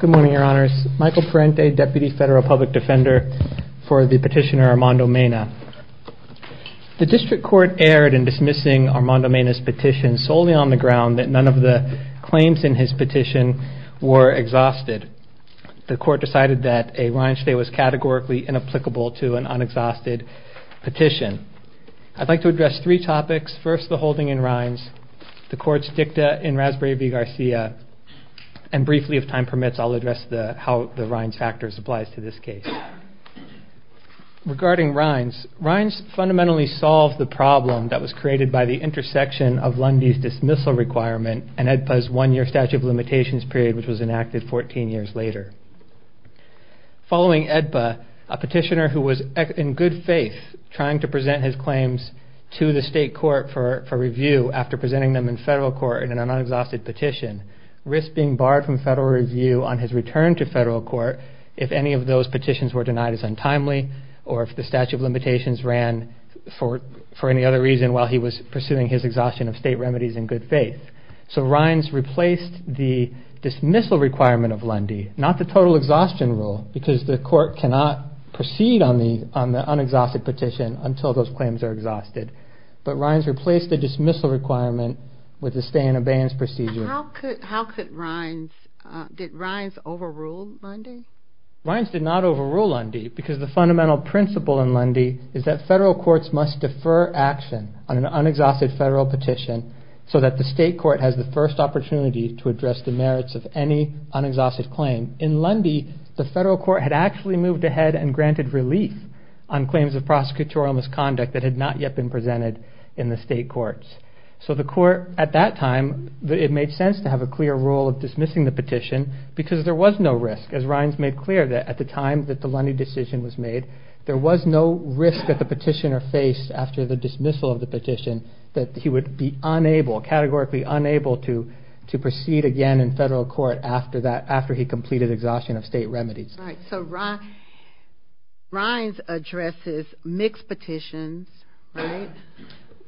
Good morning, Your Honors. Michael Parente, Deputy Federal Public Defender for the petitioner Armando Mena. The District Court erred in dismissing Armando Mena's petition solely on the ground that none of the claims in his petition were exhausted. The Court decided that a rind stay was categorically inapplicable to an unexhausted petition. I'd like to address the court's dicta in Raspberry v. Garcia, and briefly, if time permits, I'll address how the rinds factor applies to this case. Regarding rinds, rinds fundamentally solved the problem that was created by the intersection of Lundy's dismissal requirement and AEDPA's one-year statute of limitations period, which was enacted 14 years later. Following AEDPA, a petitioner who was in good faith trying to present his claims to the federal court in an unexhausted petition risked being barred from federal review on his return to federal court if any of those petitions were denied as untimely, or if the statute of limitations ran for any other reason while he was pursuing his exhaustion of state remedies in good faith. So rinds replaced the dismissal requirement of Lundy, not the total exhaustion rule, because the court cannot proceed on the unexhausted petition until those claims are exhausted, but rinds replaced the dismissal requirement with the stay and abeyance procedure. How could rinds, did rinds overrule Lundy? Rinds did not overrule Lundy because the fundamental principle in Lundy is that federal courts must defer action on an unexhausted federal petition so that the state court has the first opportunity to address the merits of any unexhausted claim. In Lundy, the federal court had actually moved ahead and granted relief on claims of prosecutorial misconduct that had not yet been presented in the state courts. So the court at that time, it made sense to have a clear rule of dismissing the petition because there was no risk as rinds made clear that at the time that the Lundy decision was made, there was no risk that the petitioner faced after the dismissal of the petition that he would be unable, categorically unable to proceed again in federal court after that, after he completed exhaustion of state remedies. Right. So rinds addresses mixed petitions, right?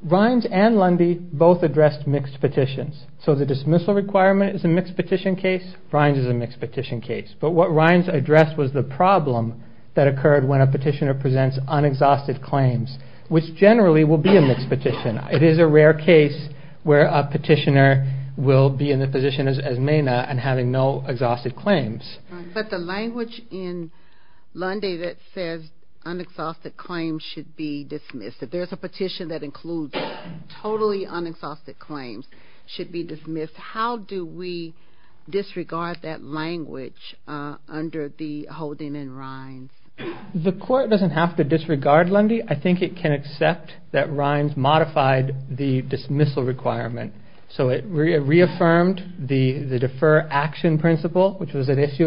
Rinds and Lundy both addressed mixed petitions. So the dismissal requirement is a mixed petition case, rinds is a mixed petition case. But what rinds addressed was the problem that occurred when a petitioner presents unexhausted claims, which generally will be a mixed petition. It is a rare case where a petitioner will be in the position as MENA and having no exhausted claims. But the language in Lundy that says unexhausted claims should be dismissed. If there's a petition that includes totally unexhausted claims should be dismissed. How do we disregard that language under the holding in rinds? The court doesn't have to disregard Lundy. I think it can accept that rinds modified the to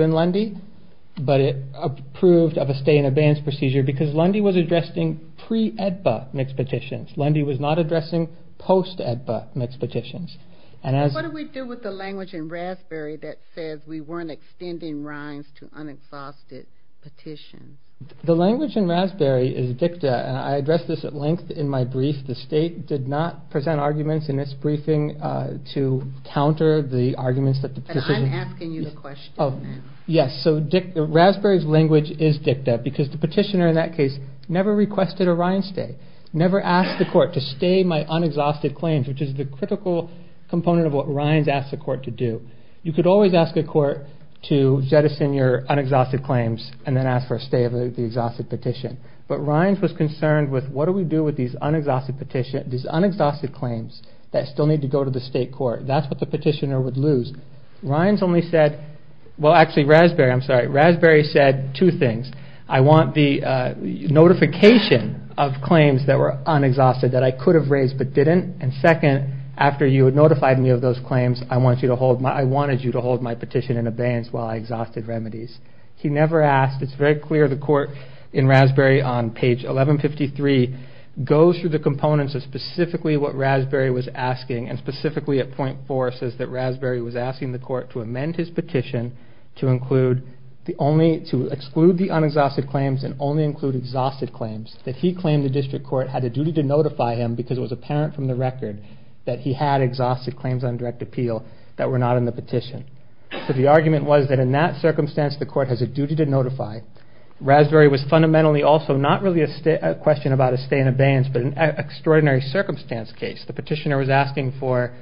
in Lundy, but it approved of a stay in abeyance procedure because Lundy was addressing pre-EDBA mixed petitions. Lundy was not addressing post-EDBA mixed petitions. And what do we do with the language in Raspberry that says we weren't extending rinds to unexhausted petitions? The language in Raspberry is dicta and I addressed this at length in my brief. The state did not present arguments in its briefing to counter the arguments that the petitioners... I'm asking you the question. Yes, so Raspberry's language is dicta because the petitioner in that case never requested a rind stay, never asked the court to stay my unexhausted claims, which is the critical component of what rinds asked the court to do. You could always ask a court to jettison your unexhausted claims and then ask for a stay of the exhausted petition. But rinds was concerned with what do we do with these unexhausted claims that still need to go to the state court. That's what the petitioner would lose. Rinds only said, well actually Raspberry, I'm sorry, Raspberry said two things. I want the notification of claims that were unexhausted that I could have raised but didn't. And second, after you had notified me of those claims, I wanted you to hold my petition in abeyance while I exhausted remedies. He never asked. It's very clear the court in Raspberry on page 1153 goes through the and specifically at point four says that Raspberry was asking the court to amend his petition to exclude the unexhausted claims and only include exhausted claims. That he claimed the district court had a duty to notify him because it was apparent from the record that he had exhausted claims on direct appeal that were not in the petition. So the argument was that in that circumstance the court has a duty to notify. Raspberry was fundamentally also not really a question about a stay in abeyance but an extraordinary circumstance case. The petitioner was asking for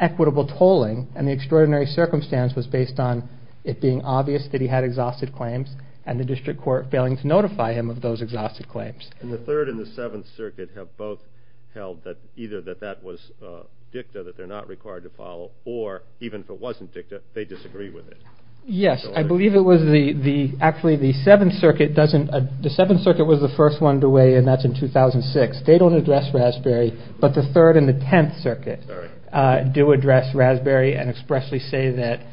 equitable tolling and the extraordinary circumstance was based on it being obvious that he had exhausted claims and the district court failing to notify him of those exhausted claims. And the third and the seventh circuit have both held that either that that was dicta that they're not required to follow or even if it wasn't dicta, they disagree with it. Yes, I believe it was the, actually the seventh circuit doesn't, the seventh circuit was the third and the tenth circuit do address Raspberry and expressly say that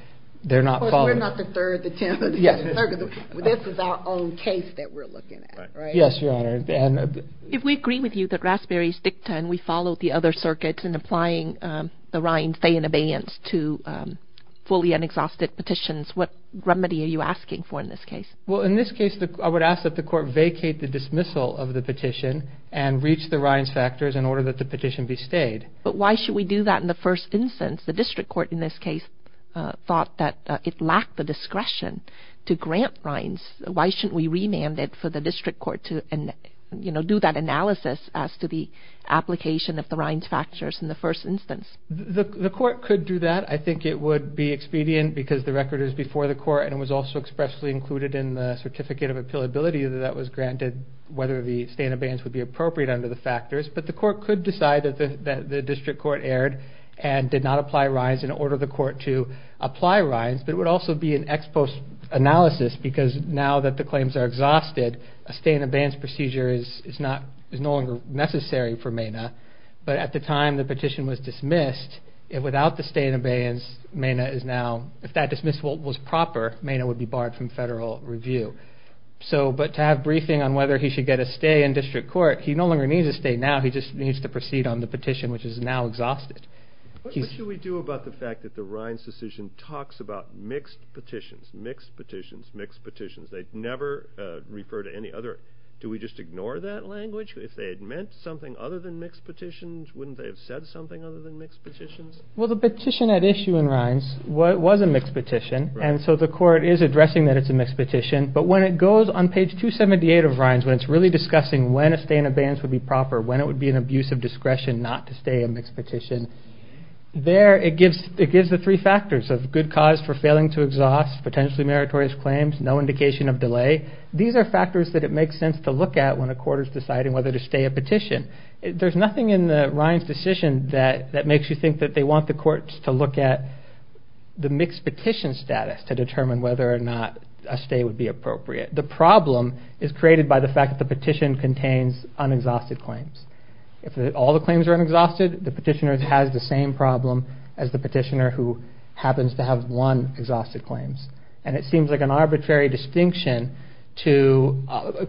they're not following. Of course, we're not the third, the tenth, or the twelfth circuit. This is our own case that we're looking at, right? Yes, Your Honor. If we agree with you that Raspberry is dicta and we follow the other circuits in applying the Ryan stay in abeyance to fully unexhausted petitions, what remedy are you asking for in this case? Well, in this case I would ask that the court vacate the dismissal of the petition and reach the Ryan's factors in order that the petition be stayed. But why should we do that in the first instance? The district court in this case thought that it lacked the discretion to grant Ryan's. Why shouldn't we remand it for the district court to, you know, do that analysis as to the application of the Ryan's factors in the first instance? The court could do that. I think it would be expedient because the record is before the court and was also expressly included in the certificate of appealability that was appropriate under the factors. But the court could decide that the district court erred and did not apply Ryan's in order for the court to apply Ryan's. But it would also be an ex post analysis because now that the claims are exhausted, a stay in abeyance procedure is no longer necessary for Mena. But at the time the petition was dismissed, without the stay in abeyance, Mena is now, if that dismissal was proper, Mena would be barred from federal review. So, but to have briefing on whether he should get a stay in district court, he no longer needs a stay now, he just needs to proceed on the petition, which is now exhausted. What should we do about the fact that the Ryan's decision talks about mixed petitions, mixed petitions, mixed petitions? They never refer to any other. Do we just ignore that language? If they had meant something other than mixed petitions, wouldn't they have said something other than mixed petitions? Well, the petition at issue in Ryan's was a mixed petition, and so the court is addressing that it's a mixed petition, but when it goes on page 278 of Ryan's, when it's really discussing when a stay in abeyance would be proper, when it would be an abuse of discretion not to stay in a mixed petition, there it gives the three factors of good cause for failing to exhaust potentially meritorious claims, no indication of delay. These are factors that it makes sense to look at when a court is deciding whether to stay a petition. There's nothing in Ryan's decision that makes you think that they want the courts to look at the mixed petition status to determine whether or not a stay would be appropriate. The problem is created by the fact that the petition contains unexhausted claims. If all the claims are unexhausted, the petitioner has the same problem as the petitioner who happens to have one exhausted claims, and it seems like an arbitrary distinction to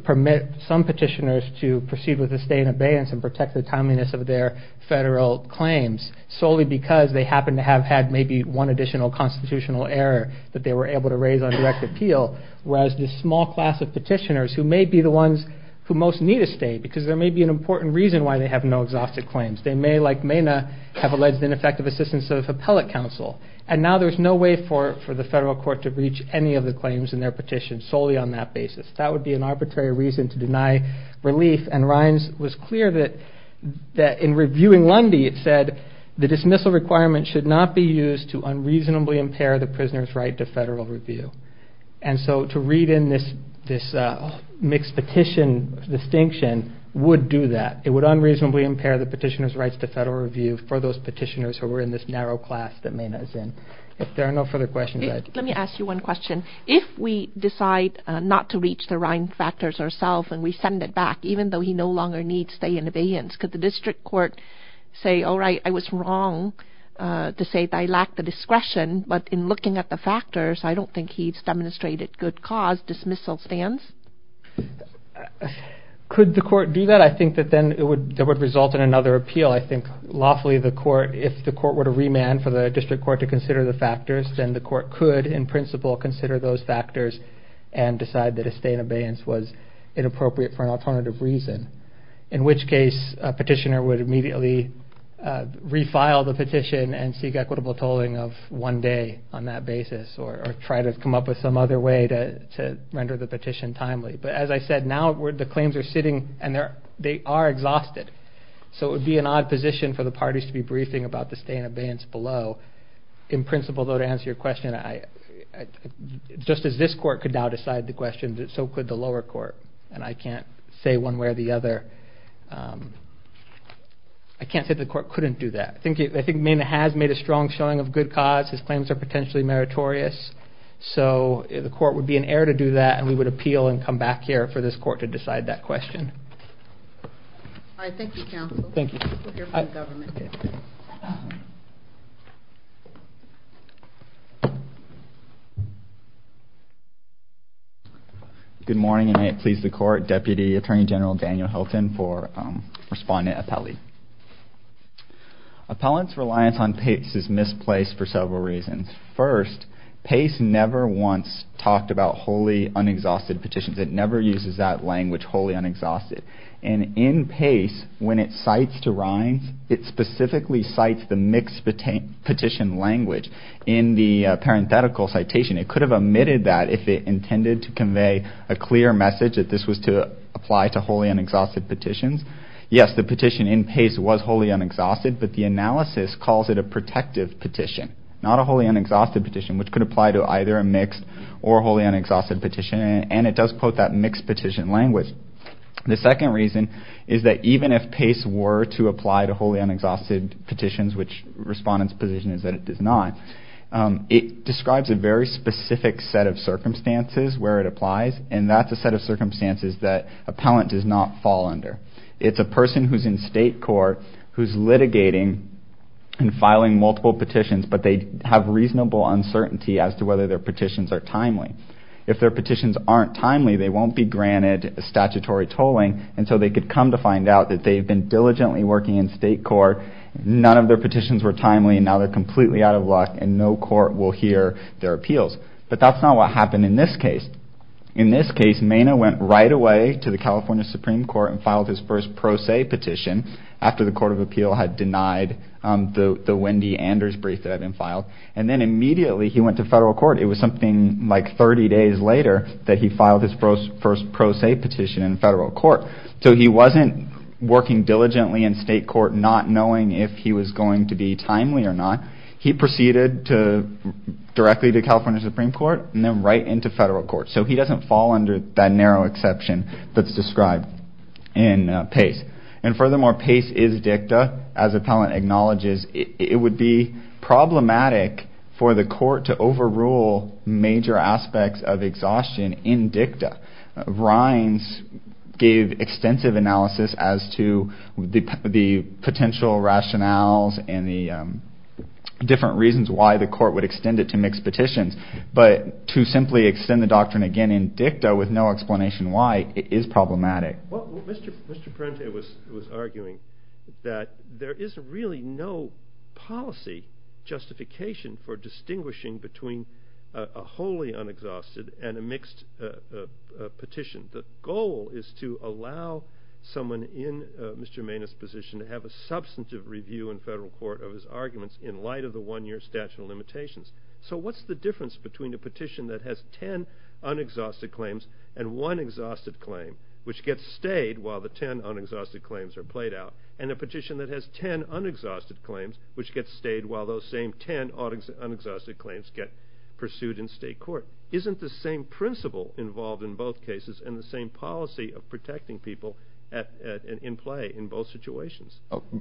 permit some petitioners to proceed with a stay in abeyance and protect the timeliness of their federal claims solely because they happen to have had maybe one additional constitutional error that they were able to raise on direct appeal, whereas this small class of petitioners who may be the ones who most need a stay because there may be an important reason why they have no exhausted claims. They may, like Mena, have alleged ineffective assistance of appellate counsel, and now there's no way for the federal court to reach any of the claims in their petition solely on that basis. That would be an arbitrary reason to deny relief, and in reviewing Lundy, it said, the dismissal requirement should not be used to unreasonably impair the prisoner's right to federal review. And so to read in this mixed petition distinction would do that. It would unreasonably impair the petitioner's rights to federal review for those petitioners who were in this narrow class that Mena is in. If there are no further questions, I'd... Let me ask you one question. If we decide not to reach the Ryan factors ourself and we send it back, even though he no longer needs stay in abeyance, could the district court say, all right, I was wrong to say that I lacked the discretion, but in looking at the factors, I don't think he's demonstrated good cause dismissal stance? Could the court do that? I think that then it would... That would result in another appeal. I think lawfully the court, if the court were to remand for the district court to consider the factors, then the court could, in principle, consider those factors and decide that a stay in abeyance was inappropriate for an alternative reason. In which case, a petitioner would immediately refile the petition and seek equitable tolling of one day on that basis or try to come up with some other way to render the petition timely. But as I said, now the claims are sitting and they are exhausted. So it would be an odd position for the parties to be briefing about the stay in abeyance below. In principle, though, to answer your question, I... Just as this court could now decide the question, so could the lower court. And I can't say one way or the other. I can't say the court couldn't do that. I think Mena has made a strong showing of good cause. His claims are potentially meritorious. So the court would be an heir to do that and we would appeal and come back here for this court to decide that question. All right, thank you, counsel. Thank you. We'll hear from the government. Good morning, and may it please the court. Deputy Attorney General Daniel Hilton for Respondent Appellee. Appellant's reliance on PACE is misplaced for several reasons. First, PACE never once talked about wholly unexhausted petitions. It never uses that language, wholly unexhausted. And in PACE, when it cites to Rhines, it specifically cites the mixed petition language in the parenthetical citation. It could have omitted that if it intended to convey a clear message that this was to apply to wholly unexhausted petitions. Yes, the petition in PACE was wholly unexhausted, but the analysis calls it a protective petition, not a wholly unexhausted petition, which could apply to either a mixed or wholly unexhausted petition. And it does quote that mixed petition language. The second reason is that even if it does, which Respondent's position is that it does not, it describes a very specific set of circumstances where it applies, and that's a set of circumstances that appellant does not fall under. It's a person who's in state court who's litigating and filing multiple petitions, but they have reasonable uncertainty as to whether their petitions are timely. If their petitions aren't timely, they won't be granted statutory tolling until they could come to find out that they've been diligently working in state court, none of their petitions were timely, and now they're completely out of luck, and no court will hear their appeals. But that's not what happened in this case. In this case, Maina went right away to the California Supreme Court and filed his first pro se petition after the Court of Appeal had denied the Wendy Anders brief that had been filed, and then immediately he went to federal court. It was something like 30 days later that he filed his first pro se petition in federal court. So he wasn't working diligently in state court not knowing if he was going to be timely or not, he proceeded directly to California Supreme Court and then right into federal court. So he doesn't fall under that narrow exception that's described in PACE. And furthermore, PACE is DICTA, as appellant acknowledges, it would be problematic for the court to overrule major aspects of exhaustion in DICTA. Rines gave extensive analysis as to the potential rationales and the different reasons why the court would extend it to mixed petitions, but to simply extend the doctrine again in DICTA with no explanation why, it is problematic. Well, Mr. Parente was arguing that there is really no policy justification for distinguishing between a wholly unexhausted and a mixed petition. The goal is to allow someone in Mr. Maina's position to have a substantive review in federal court of his arguments in light of the one year statute of limitations. So what's the difference between a petition that has ten unexhausted claims and one exhausted claim, which gets stayed while the ten unexhausted claims are played out, and a petition that has ten unexhausted claims, which gets stayed while those same ten unexhausted claims get pursued in state court? Isn't the same principle involved in both cases and the same policy of protecting people in play in both situations?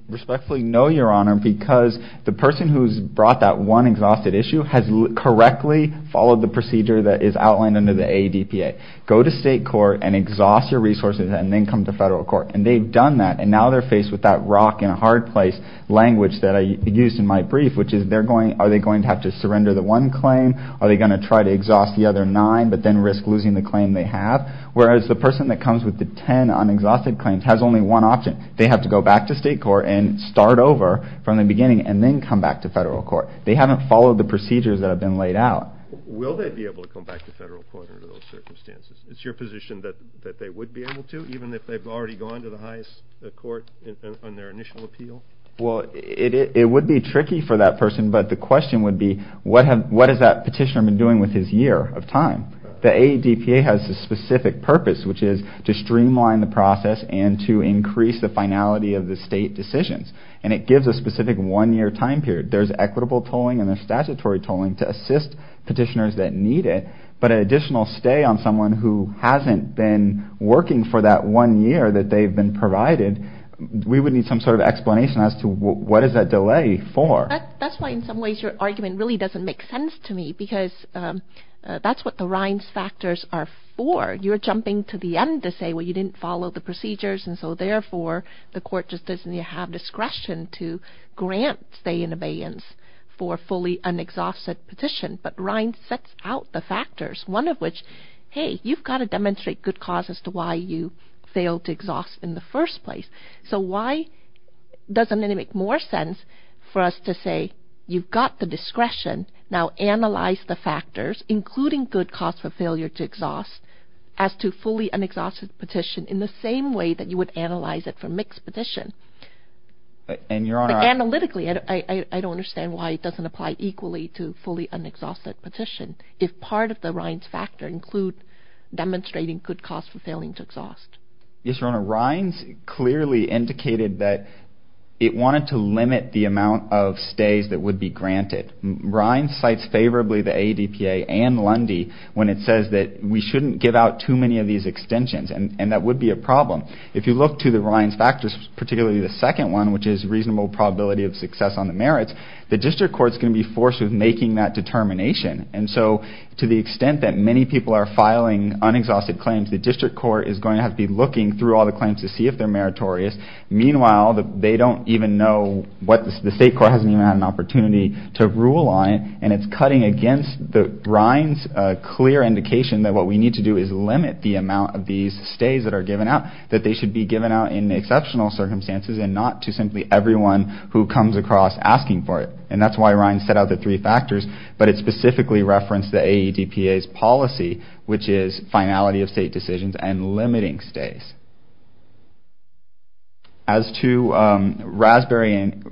Respectfully, no, Your Honor, because the person who's brought that one exhausted issue has correctly followed the procedure that is outlined under the ADPA. Go to state court and exhaust your resources, and then come to federal court. And they've done that, and now they're faced with that rock in a hard place language that I used in my brief, which is, are they going to have to surrender the one claim? Are they going to try to exhaust the other nine, but then risk losing the claim they have? Whereas the person that comes with the ten unexhausted claims has only one option. They have to go back to state court and start over from the beginning, and then come back to federal court. They haven't followed the procedures that have been laid out. Will they be able to come back to federal court under those circumstances? It's your position that they would be able to, even if they've already gone to the highest court on their initial appeal? Well, it would be tricky for that person, but the question would be, what has that petitioner been doing with his year of time? The ADPA has a specific purpose, which is to streamline the process and to increase the finality of the state decisions. And it gives a specific one-year time period. There's equitable tolling and there's statutory tolling to assist petitioners that need it, but an additional stay on someone who hasn't been working for that one year that they've been provided, we would need some sort of explanation as to what is that delay for? That's why in some ways your argument really doesn't make sense to me, because that's what the Reince factors are for. You're jumping to the end to say, well, you didn't follow the procedures, and so therefore the court just doesn't have discretion to grant stay and abeyance for fully unexhausted petition. But Reince sets out the factors, one of which, hey, you've got to demonstrate good cause as to why you failed to exhaust in the first place. So why doesn't it make more sense for us to say, you've got the discretion, now analyze the factors, including good cause for failure to exhaust, as to fully unexhausted petition in the same way that you would analyze it for mixed petition? And your Honor... Analytically, I don't understand why it doesn't apply equally to fully unexhausted petition, if part of the Reince factor include demonstrating good cause for failing to exhaust. Yes, Your Honor, Reince clearly indicated that it wanted to limit the amount of stays that would be granted. Reince cites favorably the ADPA and Lundy when it says that we shouldn't give out too many of these extensions, and that would be a problem. If you look to the Reince factors, particularly the second one, which is reasonable probability of success on the merits, the district court is going to be forced with making that determination. And so to the extent that many people are filing unexhausted claims, the district court is going to have to be looking through all the claims to see if they're meritorious. Meanwhile, they don't even know what the state court hasn't even had an opportunity to rule on it, and it's cutting against Reince's clear indication that what we need to do is limit the amount of these stays that are given out, that they should be given out in exceptional circumstances and not to simply everyone who comes across asking for it. And that's why Reince set out the three factors, but it specifically referenced the ADPA's policy, which is finality of state decisions and limiting stays. As to Raspberry and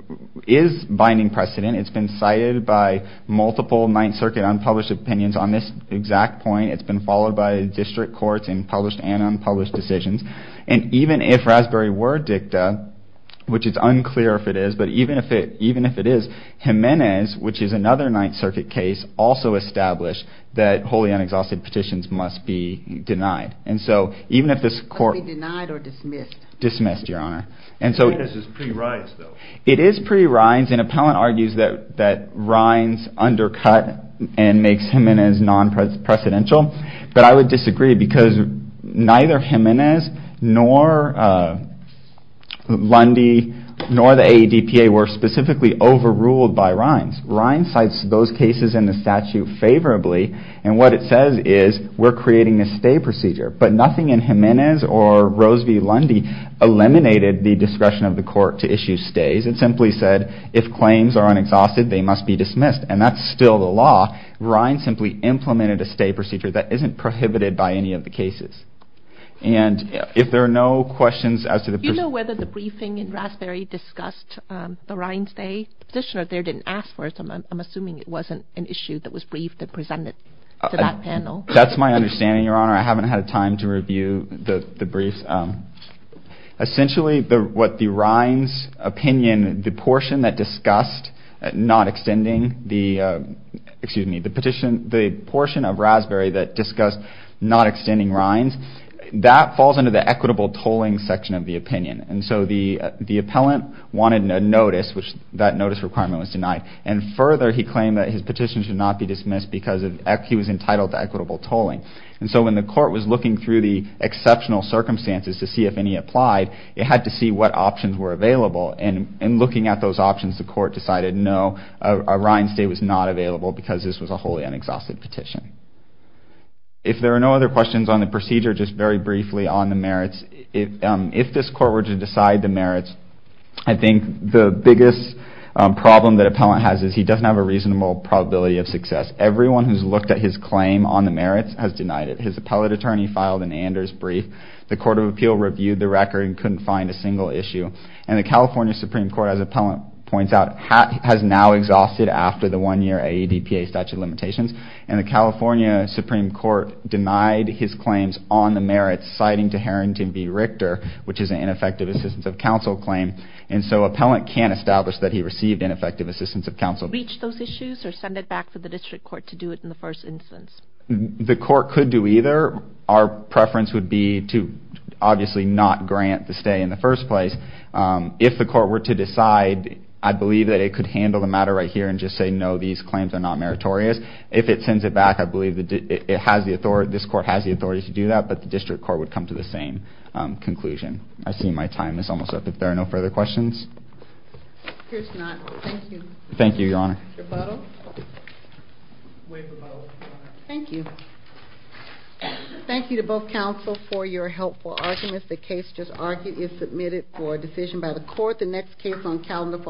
is binding precedent, it's been cited by multiple Ninth Circuit unpublished opinions on this exact point. It's been followed by district courts in published and unpublished decisions. And even if Raspberry were dicta, which is unclear if it is, but even if it is, Jimenez, which is another Ninth Circuit case, also established that wholly unexhausted petitions must be denied. And so even if this court... Must be denied or dismissed? Dismissed, Your Honor. Jimenez is pre-Reince, though. It is pre-Reince, and Appellant argues that Reince undercut and makes Jimenez non-precedential, but I would disagree because neither Jimenez nor Lundy nor the ADPA were specifically overruled by Reince. Reince cites those cases in the statute favorably, and what it says is we're creating this stay procedure, but nothing in Jimenez or Rose v. Lundy eliminated the stay. It simply said if claims are unexhausted, they must be dismissed, and that's still the law. Reince simply implemented a stay procedure that isn't prohibited by any of the cases. And if there are no questions as to the... Do you know whether the briefing in Raspberry discussed the Reince stay? The petitioner there didn't ask for it, so I'm assuming it wasn't an issue that was briefed and presented to that panel. That's my understanding, Your Honor. I haven't had time to review the briefs. Essentially, what the Reince opinion, the portion that discussed not extending the, excuse me, the petition, the portion of Raspberry that discussed not extending Reince, that falls under the equitable tolling section of the opinion, and so the Appellant wanted a notice, which that notice requirement was denied, and further, he claimed that his petition should not be dismissed because he was entitled to equitable tolling, and so when the court was looking through the exceptional circumstances to see if any applied, it had to see what options were available, and in looking at those options, the court decided no, a Reince stay was not available because this was a wholly unexhausted petition. If there are no other questions on the procedure, just very briefly on the merits, if this court were to decide the merits, I think the biggest problem that Appellant has is he doesn't have a reasonable probability of success. Everyone who's looked at his claim on the merits has The Court of Appeal reviewed the record and couldn't find a single issue, and the California Supreme Court, as Appellant points out, has now exhausted after the one-year AEDPA statute limitations, and the California Supreme Court denied his claims on the merits, citing to Harrington v. Richter, which is an ineffective assistance of counsel claim, and so Appellant can't establish that he received ineffective assistance of counsel. Reach those issues or send it back to the district court to do it in the first instance? The court could do either. Our preference would be to obviously not grant the stay in the first place. If the court were to decide, I believe that it could handle the matter right here and just say no, these claims are not meritorious. If it sends it back, I believe that it has the authority, this court has the authority to do that, but the district court would come to the same conclusion. I see my time is almost up. If there are no further questions? Here's to not. Thank you. Thank you, Your Honor. Mr. Butler? Thank you. Thank you to both counsel for your helpful arguments. The case just argued is submitted for decision by the court. The next case on calendar for